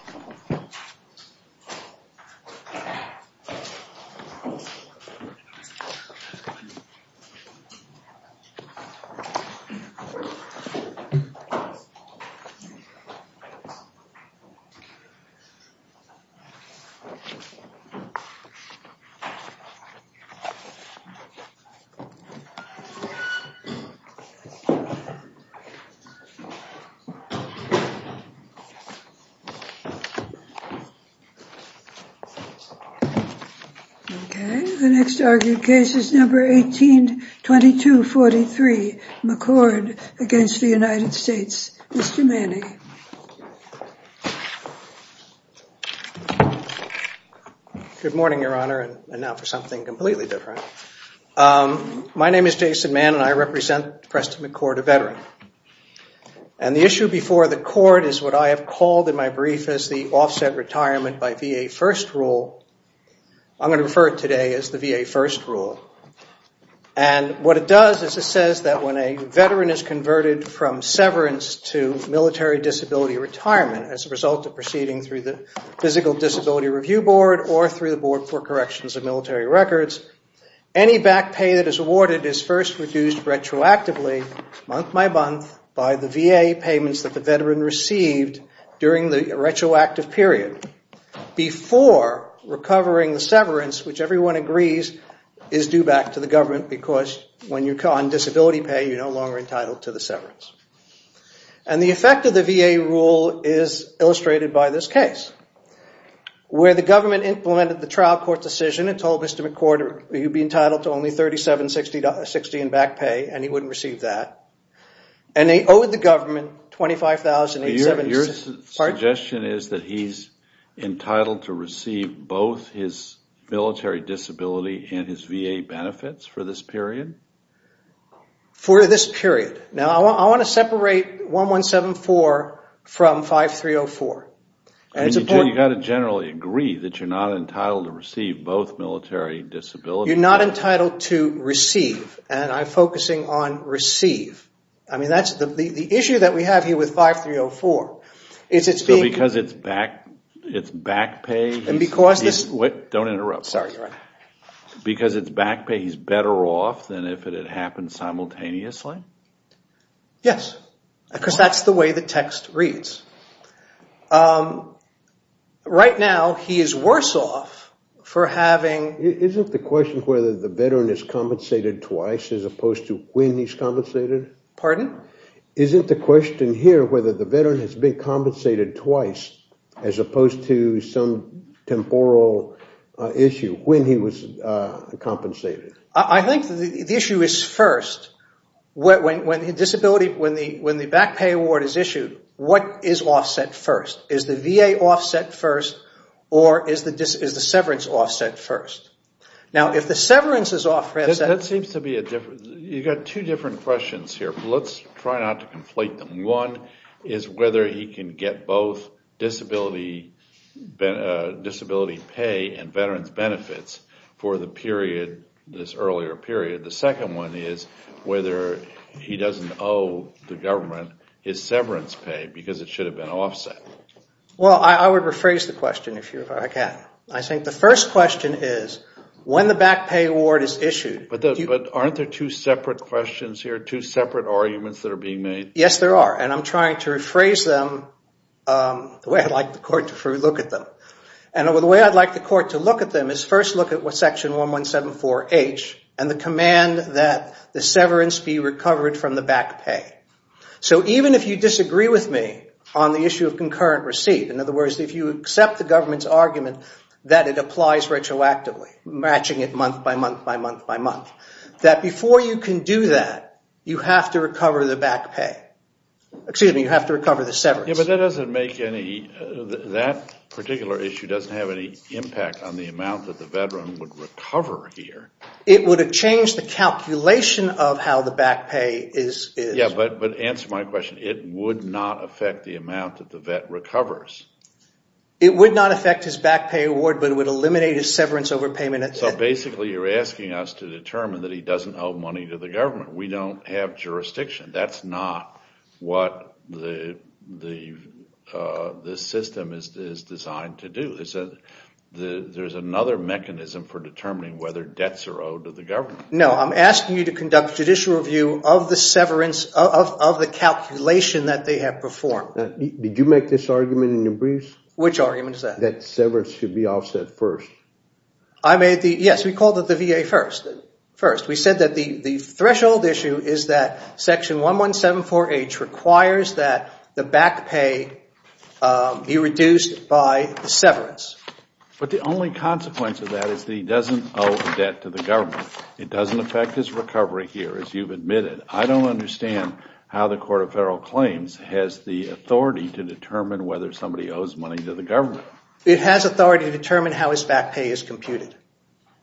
of the United States, Mr. Manning. Good morning, Your Honor, and now for something completely different. My name is Jason Mann, and I represent Preston McCord, a veteran. And the issue before the court is what I have called in my brief as the Offset Retirement by VA First Rule. I'm going to refer to it today as the VA First Rule. And what it does is it says that when a veteran is converted from severance to military disability retirement as a result of proceeding through the Physical Disability Review Board or through the Board for Corrections of Military Records, any back pay that is awarded is first reduced retroactively, month by month, by the VA payments that the veteran received during the retroactive period before recovering the severance, which everyone agrees is due back to the government because when you're on disability pay, you're no longer entitled to the severance. And the effect of the VA rule is illustrated by this case, where the government implemented the trial court decision and told Mr. McCord that he'd be entitled to only $3760 in back pay and he wouldn't receive that. And they owed the government $25,876. Your suggestion is that he's entitled to receive both his military disability and his VA benefits for this period? For this period. Now I want to separate $1174 from $5304. You've got to generally agree that you're not entitled to receive both military disability. You're not entitled to receive, and I'm focusing on receive. The issue that we have here with $5304 is it's being... So because it's back pay... Don't interrupt. Sorry. Because it's back pay, he's better off than if it had happened simultaneously? Yes. Because that's the way the text reads. Right now, he is worse off for having... Isn't the question whether the veteran is compensated twice as opposed to when he's compensated? Pardon? Isn't the question here whether the veteran has been compensated twice as opposed to some temporal issue when he was compensated? I think the issue is first. When the back pay award is issued, what is offset first? Is the VA offset first, or is the severance offset first? Now if the severance is offset... That seems to be a different... You've got two different questions here. Let's try not to conflate them. One is whether he can get both disability pay and veteran's benefits for the period this earlier period. The second one is whether he doesn't owe the government his severance pay because it should have been offset. Well, I would rephrase the question if I can. I think the first question is when the back pay award is issued... But aren't there two separate questions here, two separate arguments that are being made? Yes, there are. And I'm trying to rephrase them the way I'd like the court to look at them. And the way I'd like the court to look at them is first look at what Section 1174H and the command that the severance be recovered from the back pay. So even if you disagree with me on the issue of concurrent receipt, in other words, if you accept the government's argument that it applies retroactively, matching it month by month by month by month, that before you can do that, you have to recover the back pay. Excuse me, you have to recover the severance. Yes, but that particular issue doesn't have any impact on the amount that the veteran would recover here. It would have changed the calculation of how the back pay is... Yes, but answer my question. It would not affect the amount that the vet recovers. It would not affect his back pay award, but it would eliminate his severance overpayment. So basically you're asking us to determine that he doesn't owe money to the government. We don't have jurisdiction. That's not what the system is designed to do. There's another mechanism for determining whether debts are owed to the government. No, I'm asking you to conduct a judicial review of the severance of the calculation that they have performed. Did you make this argument in your briefs? Which argument is that? That severance should be offset first. Yes, we called it the VA first. We said that the threshold issue is that Section 1174H requires that the back pay be reduced by the severance. But the only consequence of that is that he doesn't owe debt to the government. It doesn't affect his recovery here, as you've admitted. I don't understand how the Court of Federal Claims has the authority to determine whether somebody owes money to the government. It has authority to determine how his back pay is computed.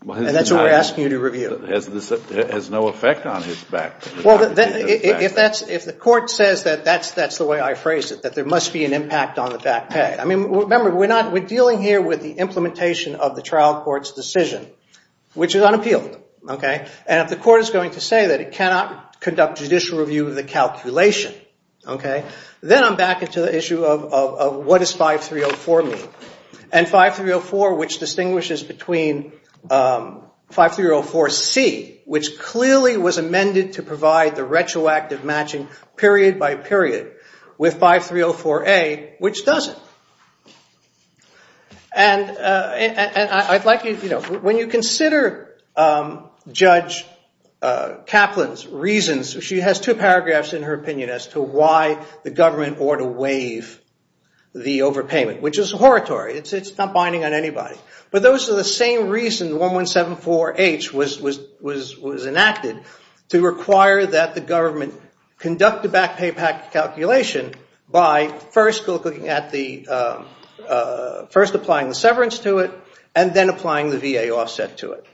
And that's what we're asking you to review. It has no effect on his back pay. Well, if the Court says that, that's the way I phrase it, that there must be an impact on the back pay. Remember, we're dealing here with the implementation of the trial court's decision, which is unappealed. And if the Court is going to say that it cannot conduct judicial review of the calculation, then I'm back into the issue of what does 5304 mean. And 5304, which distinguishes between 5304C, which clearly was amended to provide the retroactive matching period by period, with 5304A, which doesn't. When you consider Judge Kaplan's reasons, she has two paragraphs in her opinion as to why the government ought to waive the overpayment, which is horritory. It's not binding on anybody. But those are the same reasons 1174H was enacted to require that the government conduct the back pay calculation by first applying the severance to it and then applying the VA offset to it.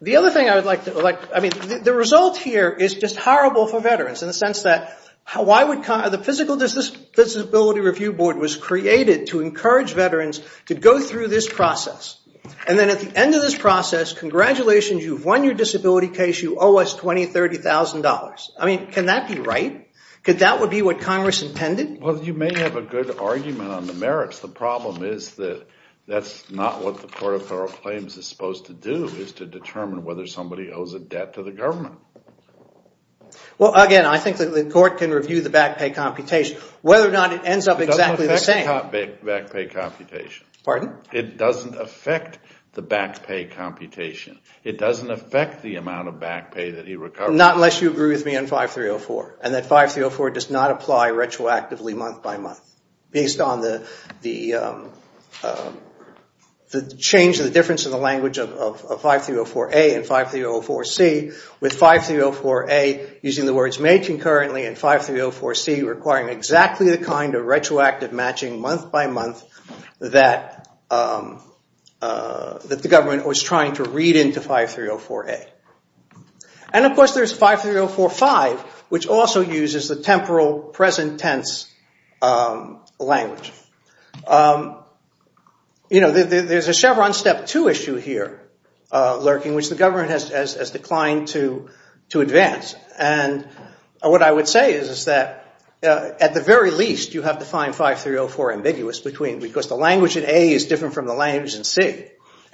The result here is just horrible for veterans in the sense that the Physical Disability Review Board was created to encourage veterans to go through this process. And then at the end of this process, congratulations, you've won your disability case. You owe us $20,000, $30,000. I mean, can that be right? Could that be what Congress intended? Well, you may have a good argument on the merits. The problem is that that's not what the Court of Thorough Claims is supposed to do, is to determine whether somebody owes a debt to the government. Well, again, I think the court can review the back pay computation, whether or not it ends up exactly the same. It doesn't affect the back pay computation. Pardon? It doesn't affect the back pay computation. It doesn't affect the amount of back pay that he recovers. Not unless you agree with me on 5304, and that 5304 does not apply retroactively month by month, based on the change in the difference in the language of 5304A and 5304C, with 5304A using the words may concurrently and 5304C requiring exactly the kind of retroactive matching month by month that the government was trying to read into 5304A. And, of course, there's 5304V, which also uses the temporal present tense language. You know, there's a Chevron Step 2 issue here lurking, which the government has declined to advance. And what I would say is that, at the very least, you have to find 5304 ambiguous between, because the language in A is different from the language in C.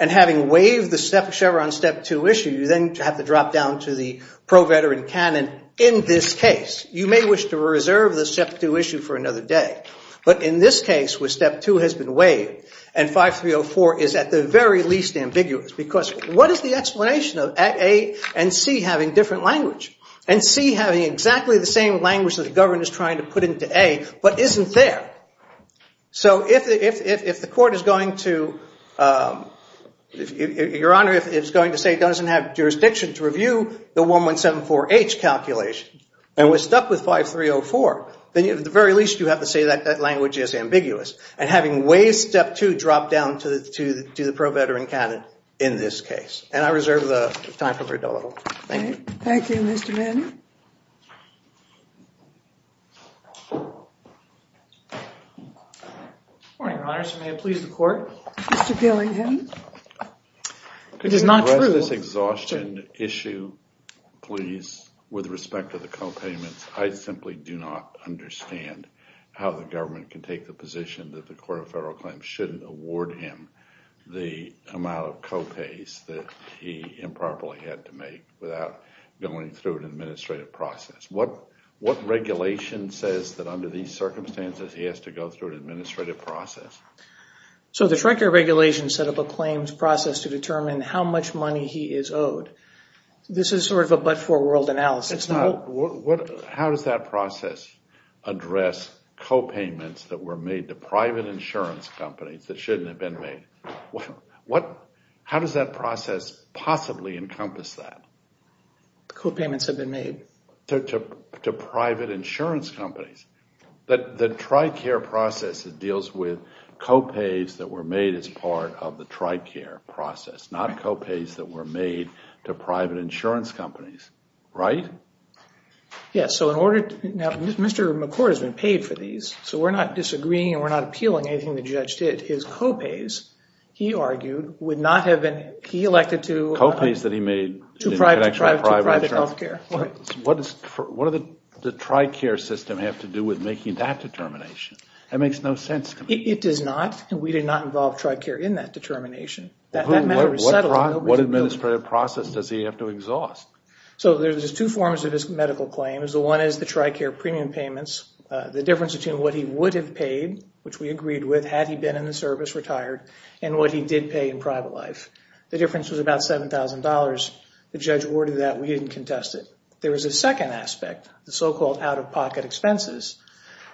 And having waived the Chevron Step 2 issue, you then have to drop down to the pro-veteran canon in this case. You may wish to reserve the Step 2 issue for another day. But in this case, where Step 2 has been waived, and 5304 is at the very least ambiguous, because what is the explanation of A and C having different language? And C having exactly the same language that the government is trying to put into A, but isn't there? So if the court is going to, Your Honor, if it's going to say it doesn't have jurisdiction to review the 1174H calculation, and we're stuck with 5304, then, at the very least, you have to say that that language is ambiguous. And having waived Step 2 dropped down to the pro-veteran canon in this case. And I reserve the time for Berdullo. Thank you. Thank you, Mr. Manning. Good morning, Your Honors. May it please the Court? Mr. Billingham. Could you address this exhaustion issue, please, with respect to the copayments? I simply do not understand how the government can take the position that the Court of Federal Claims shouldn't award him the amount of copays that he improperly had to make without going through an administrative process. What regulation says that, under these circumstances, he has to go through an administrative process? So the Trent Care Regulation set up a claims process to determine how much money he is owed. This is sort of a but-for-world analysis. How does that process address copayments that were made to private insurance companies that shouldn't have been made? How does that process possibly encompass that? Copayments have been made. To private insurance companies. The Tricare process deals with copays that were made as part of the Tricare process, not copays that were made to private insurance companies. Right? Mr. McCord has been paid for these, so we're not disagreeing or appealing anything the judge did. His copays, he argued, would not have been elected to private health care. What does the Tricare system have to do with making that determination? That makes no sense to me. It does not, and we did not involve Tricare in that determination. What administrative process does he have to exhaust? So there's two forms of his medical claims. One is the Tricare premium payments, the difference between what he would have paid, which we agreed with had he been in the service retired, and what he did pay in private life. The difference was about $7,000. The judge awarded that. We didn't contest it. There was a second aspect, the so-called out-of-pocket expenses.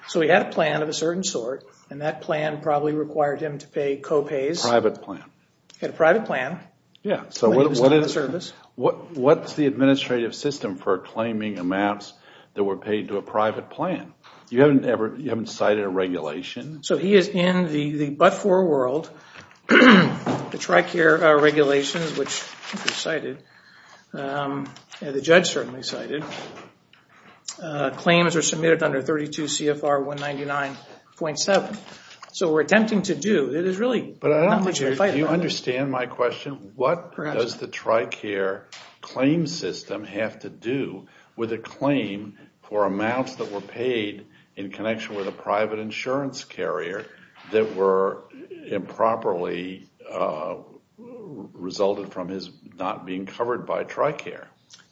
So he had a plan of a certain sort, and that plan probably required him to pay copays. A private plan. He had a private plan when he was in the service. What's the administrative system for claiming amounts that were paid to a private plan? You haven't cited a regulation? So he is in the but-for world. The Tricare regulations, which he cited, and the judge certainly cited, claims are submitted under 32 CFR 199.7. So what we're attempting to do, there's really not much we can fight about. Do you understand my question? What does the Tricare claim system have to do with a claim for amounts that were paid in connection with a private insurance carrier that were improperly resulted from his not being covered by Tricare?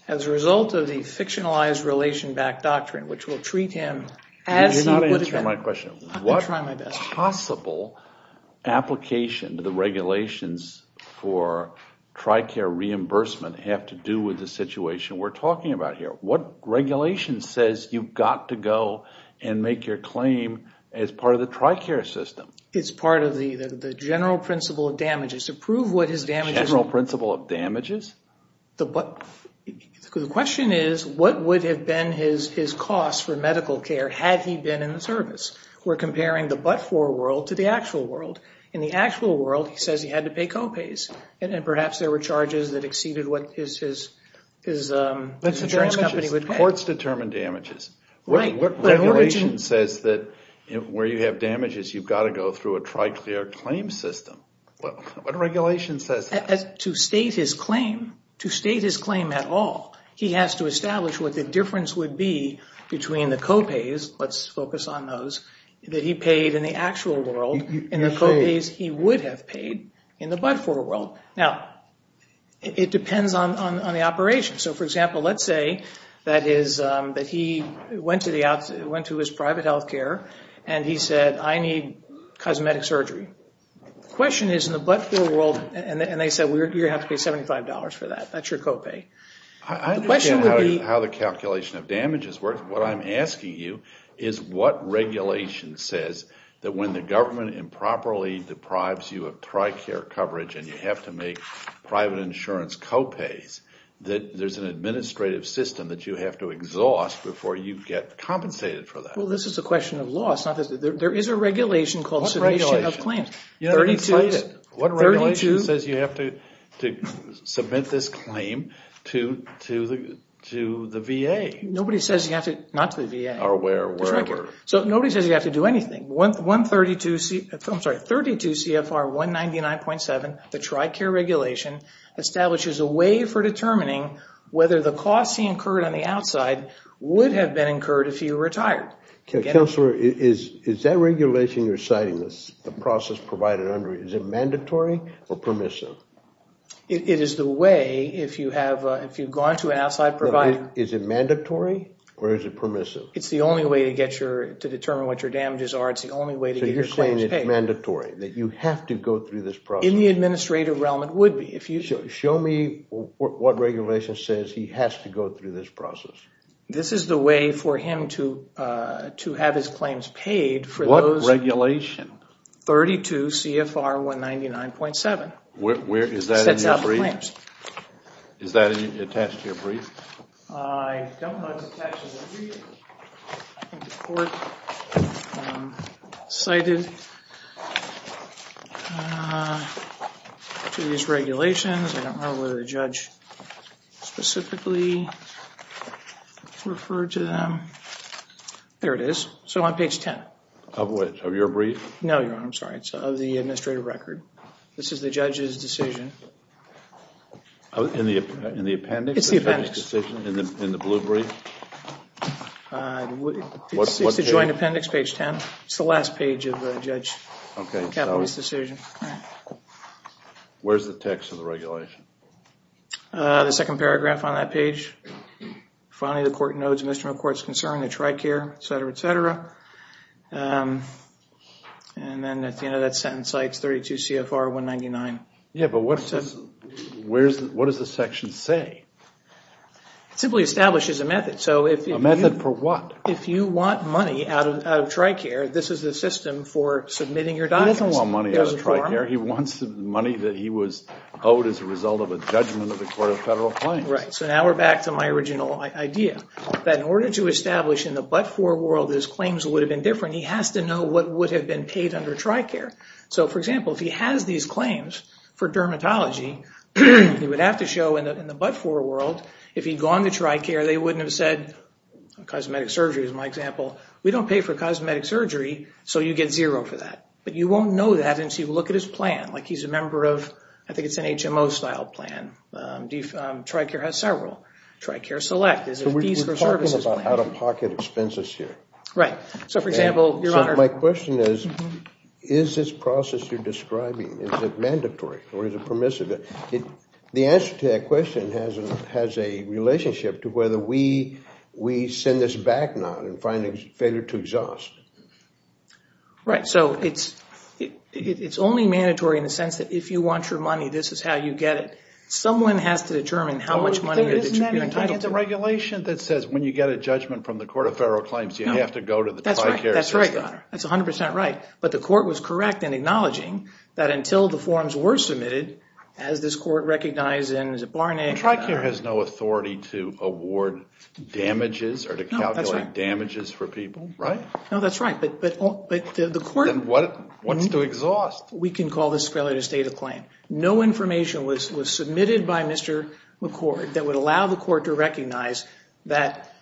As a result of the fictionalized relation-backed doctrine, which will treat him as he would have. Do you understand my question? I'm trying my best. What possible application do the regulations for Tricare reimbursement have to do with the situation we're talking about here? What regulation says you've got to go and make your claim as part of the Tricare system? It's part of the general principle of damages. To prove what his damages- General principle of damages? The question is, what would have been his costs for medical care had he been in the service? We're comparing the but-for world to the actual world. In the actual world, he says he had to pay co-pays. And perhaps there were charges that exceeded what his insurance company would pay. Courts determine damages. What regulation says that where you have damages, you've got to go through a Tricare claim system? What regulation says that? To state his claim, to state his claim at all, he has to establish what the difference would be between the co-pays- let's focus on those- that he paid in the actual world and the co-pays he would have paid in the but-for world. Now, it depends on the operation. So, for example, let's say that he went to his private health care and he said, I need cosmetic surgery. The question is, in the but-for world, and they said you're going to have to pay $75 for that. That's your co-pay. I understand how the calculation of damages works. What I'm asking you is what regulation says that when the government improperly deprives you of Tricare coverage and you have to make private insurance co-pays, that there's an administrative system that you have to exhaust before you get compensated for that? Well, this is a question of loss. There is a regulation called Submission of Claims. What regulation says you have to submit this claim to the VA? Nobody says you have to- not to the VA. Or where? So, nobody says you have to do anything. 132 CFR 199.7, the Tricare regulation, establishes a way for determining whether the costs he incurred on the outside would have been incurred if he were retired. Counselor, is that regulation you're citing, the process provided under it, is it mandatory or permissive? It is the way, if you've gone to an outside provider- Is it mandatory or is it permissive? It's the only way to determine what your damages are. It's the only way to get your claims paid. So you're saying it's mandatory, that you have to go through this process? In the administrative realm, it would be. Show me what regulation says he has to go through this process. This is the way for him to have his claims paid for those- What regulation? 32 CFR 199.7. Where is that in your brief? It sets out the claims. Is that attached to your brief? I don't know it's attached to the brief. I think the court cited these regulations. I don't know whether the judge specifically referred to them. There it is. So on page 10. Of which? Of your brief? No, Your Honor, I'm sorry. It's of the administrative record. This is the judge's decision. In the appendix? It's the appendix. In the blue brief? It's the joint appendix, page 10. It's the last page of the judge's decision. Where's the text of the regulation? The second paragraph on that page. Finally, the court notes Mr. McCourt's concern, the TRICARE, etc., etc. And then at the end of that sentence, it's 32 CFR 199. Yeah, but what does the section say? It simply establishes a method. A method for what? If you want money out of TRICARE, this is the system for submitting your documents. He doesn't want money out of TRICARE. He wants money that he was owed as a result of a judgment of the court of federal claims. Right. So now we're back to my original idea. That in order to establish in the but-for world that his claims would have been different, he has to know what would have been paid under TRICARE. So, for example, if he has these claims for dermatology, he would have to show in the but-for world, if he'd gone to TRICARE, they wouldn't have said, cosmetic surgery is my example, we don't pay for cosmetic surgery, so you get zero for that. But you won't know that until you look at his plan. Like he's a member of, I think it's an HMO-style plan. TRICARE has several. TRICARE Select is a fees for services plan. So we're talking about out-of-pocket expenses here. Right. So, for example, Your Honor. My question is, is this process you're describing, is it mandatory or is it permissible? The answer to that question has a relationship to whether we send this back now and find a failure to exhaust. Right. So it's only mandatory in the sense that if you want your money, this is how you get it. Someone has to determine how much money you're entitled to. Isn't that the regulation that says when you get a judgment from the court of federal claims, you have to go to the TRICARE system? That's right, Your Honor. That's 100% right. But the court was correct in acknowledging that until the forms were submitted, as this court recognized in Barnett. TRICARE has no authority to award damages or to calculate damages for people, right? No, that's right. But the court. Then what's to exhaust? We can call this a failure to state a claim. No information was submitted by Mr. McCord that would allow the court to recognize that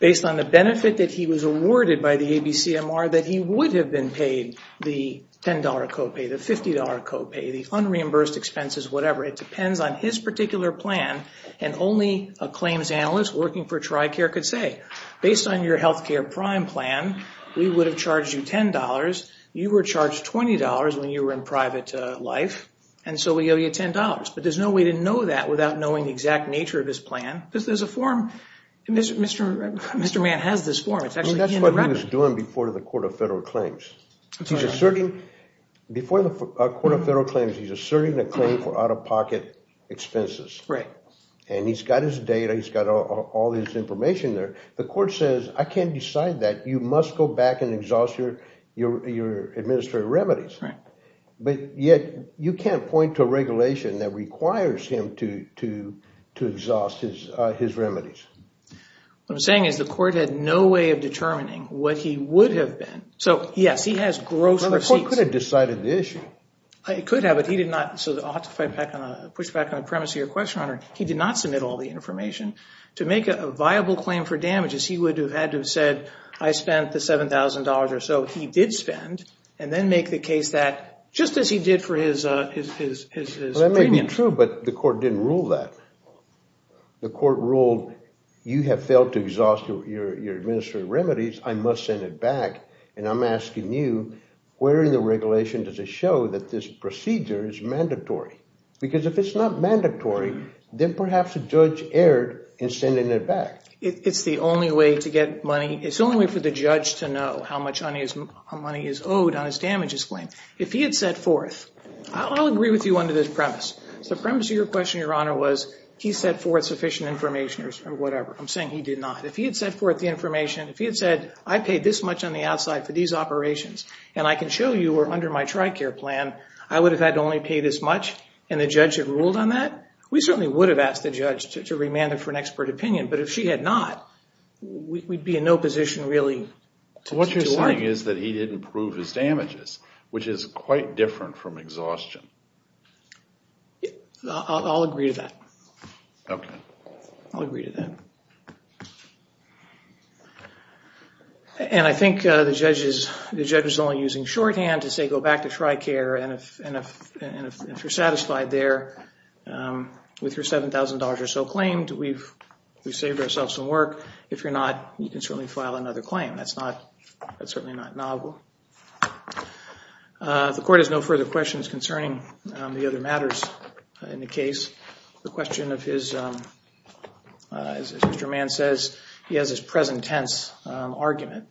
based on the benefit that he was awarded by the ABCMR, that he would have been paid the $10 copay, the $50 copay, the unreimbursed expenses, whatever. It depends on his particular plan. And only a claims analyst working for TRICARE could say, based on your health care prime plan, we would have charged you $10. You were charged $20 when you were in private life, and so we owe you $10. But there's no way to know that without knowing the exact nature of his plan. There's a form. Mr. Mann has this form. That's what he was doing before the Court of Federal Claims. Before the Court of Federal Claims, he's asserting a claim for out-of-pocket expenses. Right. And he's got his data. He's got all this information there. The court says, I can't decide that. You must go back and exhaust your administrative remedies. Right. But yet, you can't point to a regulation that requires him to exhaust his remedies. What I'm saying is the court had no way of determining what he would have been. So, yes, he has gross receipts. The court could have decided the issue. It could have, but he did not. So I'll have to push back on the premise of your question, Your Honor. He did not submit all the information. To make a viable claim for damages, he would have had to have said, I spent the $7,000 or so he did spend, and then make the case that, just as he did for his premium. That may be true, but the court didn't rule that. The court ruled, you have failed to exhaust your administrative remedies. I must send it back. And I'm asking you, where in the regulation does it show that this procedure is mandatory? Because if it's not mandatory, then perhaps a judge erred in sending it back. It's the only way to get money. It's the only way for the judge to know how much money is owed on his damages claim. If he had set forth, I'll agree with you under this premise. The premise of your question, Your Honor, was he set forth sufficient information or whatever. I'm saying he did not. If he had set forth the information, if he had said, I paid this much on the outside for these operations, and I can show you or under my TRICARE plan, I would have had to only pay this much, and the judge had ruled on that, we certainly would have asked the judge to remand him for an expert opinion. But if she had not, we'd be in no position really to argue. What you're saying is that he didn't prove his damages, which is quite different from exhaustion. I'll agree to that. Okay. I'll agree to that. And I think the judge is only using shorthand to say go back to TRICARE, and if you're satisfied there with your $7,000 or so claim, we've saved ourselves some work. If you're not, you can certainly file another claim. That's certainly not novel. The Court has no further questions concerning the other matters in the case. The question of his, as Mr. Mann says, he has his present tense argument.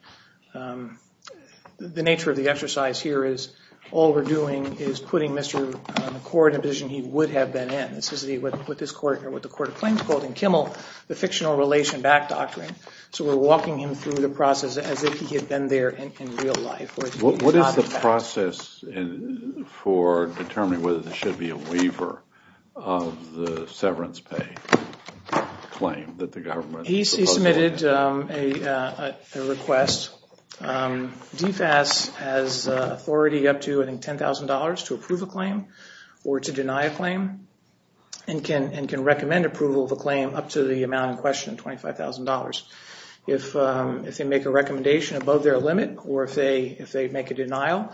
The nature of the exercise here is all we're doing is putting Mr. McCord in a position he would have been in. This is what the Court of Claims called in Kimmel the fictional relation back doctrine. So we're walking him through the process as if he had been there in real life. What is the process for determining whether there should be a waiver of the severance pay claim that the government is proposing? He submitted a request. DFAS has authority up to, I think, $10,000 to approve a claim or to deny a claim and can recommend approval of a claim up to the amount in question, $25,000. If they make a recommendation above their limit or if they make a denial,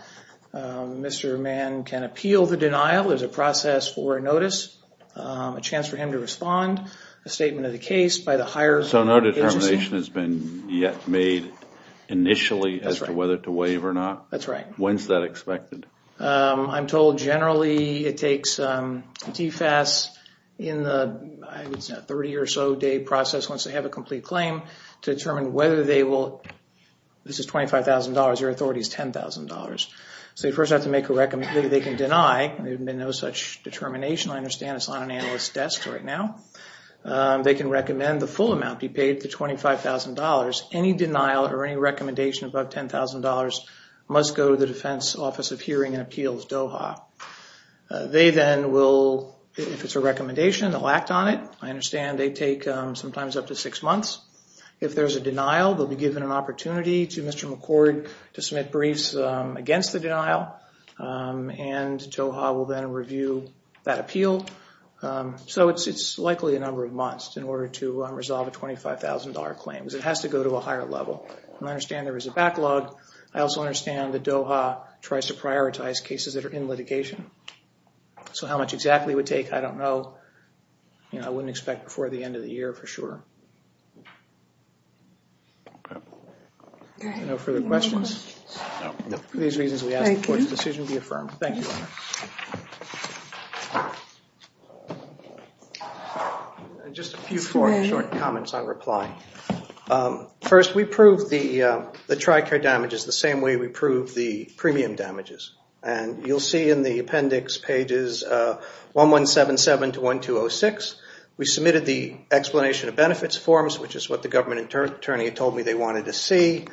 Mr. Mann can appeal the denial. There's a process for a notice, a chance for him to respond, a statement of the case by the higher agency. The determination has been yet made initially as to whether to waive or not? That's right. When is that expected? I'm told generally it takes DFAS in the 30 or so day process once they have a complete claim to determine whether they will, this is $25,000, your authority is $10,000. So you first have to make a recommendation. They can deny, there's been no such determination. I understand it's on an analyst's desk right now. They can recommend the full amount be paid, the $25,000. Any denial or any recommendation above $10,000 must go to the Defense Office of Hearing and Appeals, DOHA. They then will, if it's a recommendation, they'll act on it. I understand they take sometimes up to six months. If there's a denial, they'll be given an opportunity to Mr. McCord to submit briefs against the denial and DOHA will then review that appeal. So it's likely a number of months in order to resolve a $25,000 claim. It has to go to a higher level. I understand there is a backlog. I also understand that DOHA tries to prioritize cases that are in litigation. So how much exactly it would take, I don't know. I wouldn't expect before the end of the year for sure. No further questions? No. Thank you, Honor. Just a few short comments on reply. First, we prove the TRICARE damages the same way we prove the premium damages. And you'll see in the appendix pages 1177 to 1206, we submitted the explanation of benefits forms, which is what the government attorney told me they wanted to see,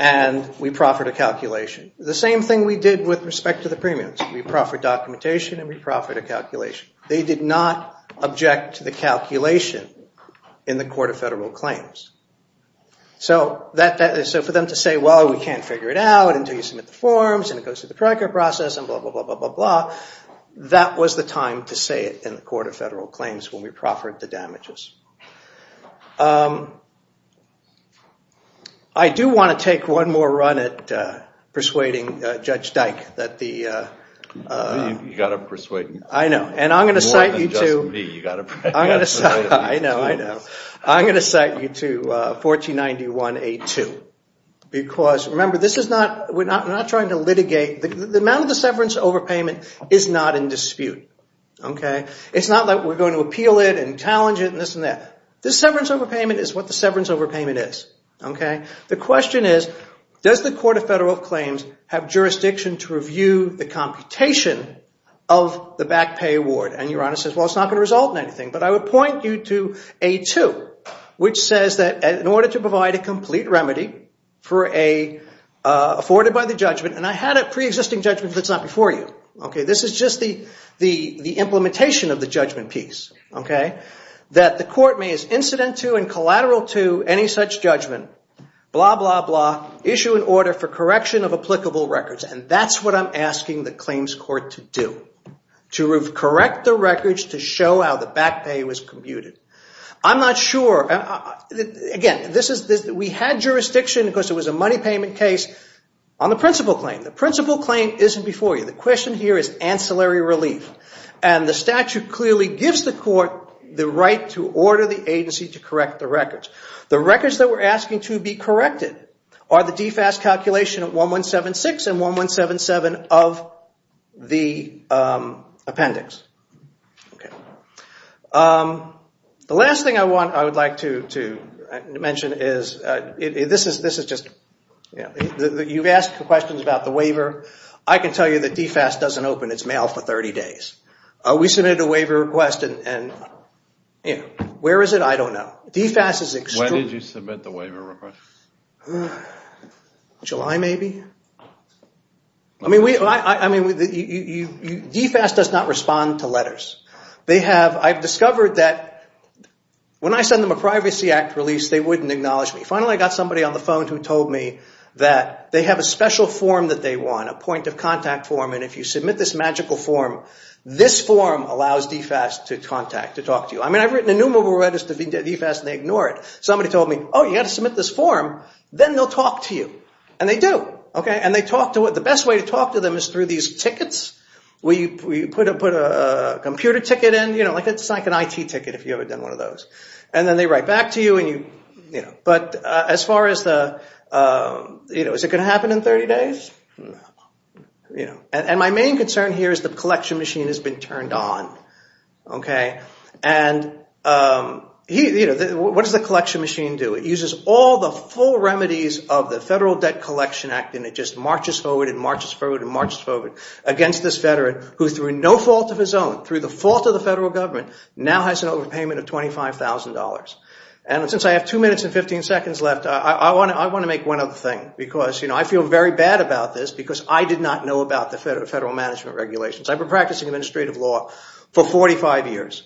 and we proffered a calculation. The same thing we did with respect to the premiums. We proffered documentation and we proffered a calculation. They did not object to the calculation in the Court of Federal Claims. So for them to say, well, we can't figure it out until you submit the forms and it goes through the TRICARE process and blah, blah, blah, blah, blah, blah, that was the time to say it in the Court of Federal Claims when we proffered the damages. I do want to take one more run at persuading Judge Dyke. You've got to persuade him. I know. More than just me. I know, I know. I'm going to cite you to 1491A2. Because remember, we're not trying to litigate. The amount of the severance overpayment is not in dispute. This severance overpayment is what the severance overpayment is. The question is, does the Court of Federal Claims have jurisdiction to review the computation of the back pay award? And your Honor says, well, it's not going to result in anything. But I would point you to A2, which says that in order to provide a complete remedy for a, afforded by the judgment, and I had a preexisting judgment that's not before you. This is just the implementation of the judgment piece. That the Court may as incident to and collateral to any such judgment, blah, blah, blah, issue an order for correction of applicable records. And that's what I'm asking the Claims Court to do. To correct the records to show how the back pay was computed. I'm not sure. Again, we had jurisdiction because it was a money payment case on the principal claim. The principal claim isn't before you. The question here is ancillary relief. And the statute clearly gives the Court the right to order the agency to correct the records. The records that we're asking to be corrected are the DFAS calculation of 1176 and 1177 of the appendix. The last thing I would like to mention is, you've asked questions about the waiver. I can tell you that DFAS doesn't open its mail for 30 days. We submitted a waiver request and where is it? I don't know. When did you submit the waiver request? July, maybe. DFAS does not respond to letters. I've discovered that when I send them a Privacy Act release, they wouldn't acknowledge me. Finally, I got somebody on the phone who told me that they have a special form that they want. A point of contact form. And if you submit this magical form, this form allows DFAS to talk to you. I've written enumerable letters to DFAS and they ignore it. Somebody told me, oh, you have to submit this form. Then they'll talk to you. And they do. The best way to talk to them is through these tickets. We put a computer ticket in. It's like an IT ticket if you've ever done one of those. And then they write back to you. But as far as the, is it going to happen in 30 days? No. And my main concern here is the collection machine has been turned on. And what does the collection machine do? It uses all the full remedies of the Federal Debt Collection Act and it just marches forward and marches forward and marches forward against this veteran who through no fault of his own, through the fault of the federal government, now has an overpayment of $25,000. And since I have two minutes and 15 seconds left, I want to make one other thing. Because I feel very bad about this because I did not know about the federal management regulations. I've been practicing administrative law for 45 years.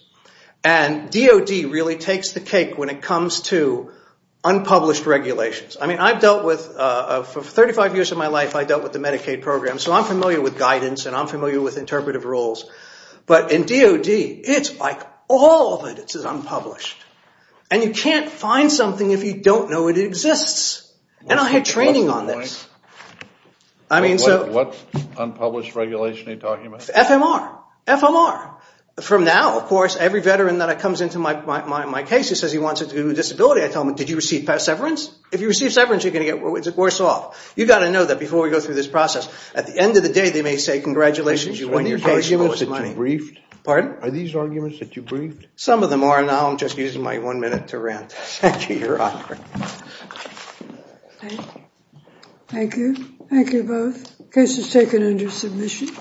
And DOD really takes the cake when it comes to unpublished regulations. I've dealt with, for 35 years of my life, I've dealt with the Medicaid program. So I'm familiar with guidance and I'm familiar with interpretive rules. But in DOD, it's like all of it is unpublished. And you can't find something if you don't know it exists. And I had training on this. I mean, so. What unpublished regulation are you talking about? FMR. FMR. From now, of course, every veteran that comes into my case who says he wants a disability, I tell them, did you receive severance? If you receive severance, you're going to get worse off. You've got to know that before we go through this process. At the end of the day, they may say, congratulations, you won your case. Are these arguments that you briefed? Pardon? Are these arguments that you briefed? Some of them are. Now I'm just using my one minute to rant. Thank you, Your Honor. Thank you. Thank you both. Case is taken under submission.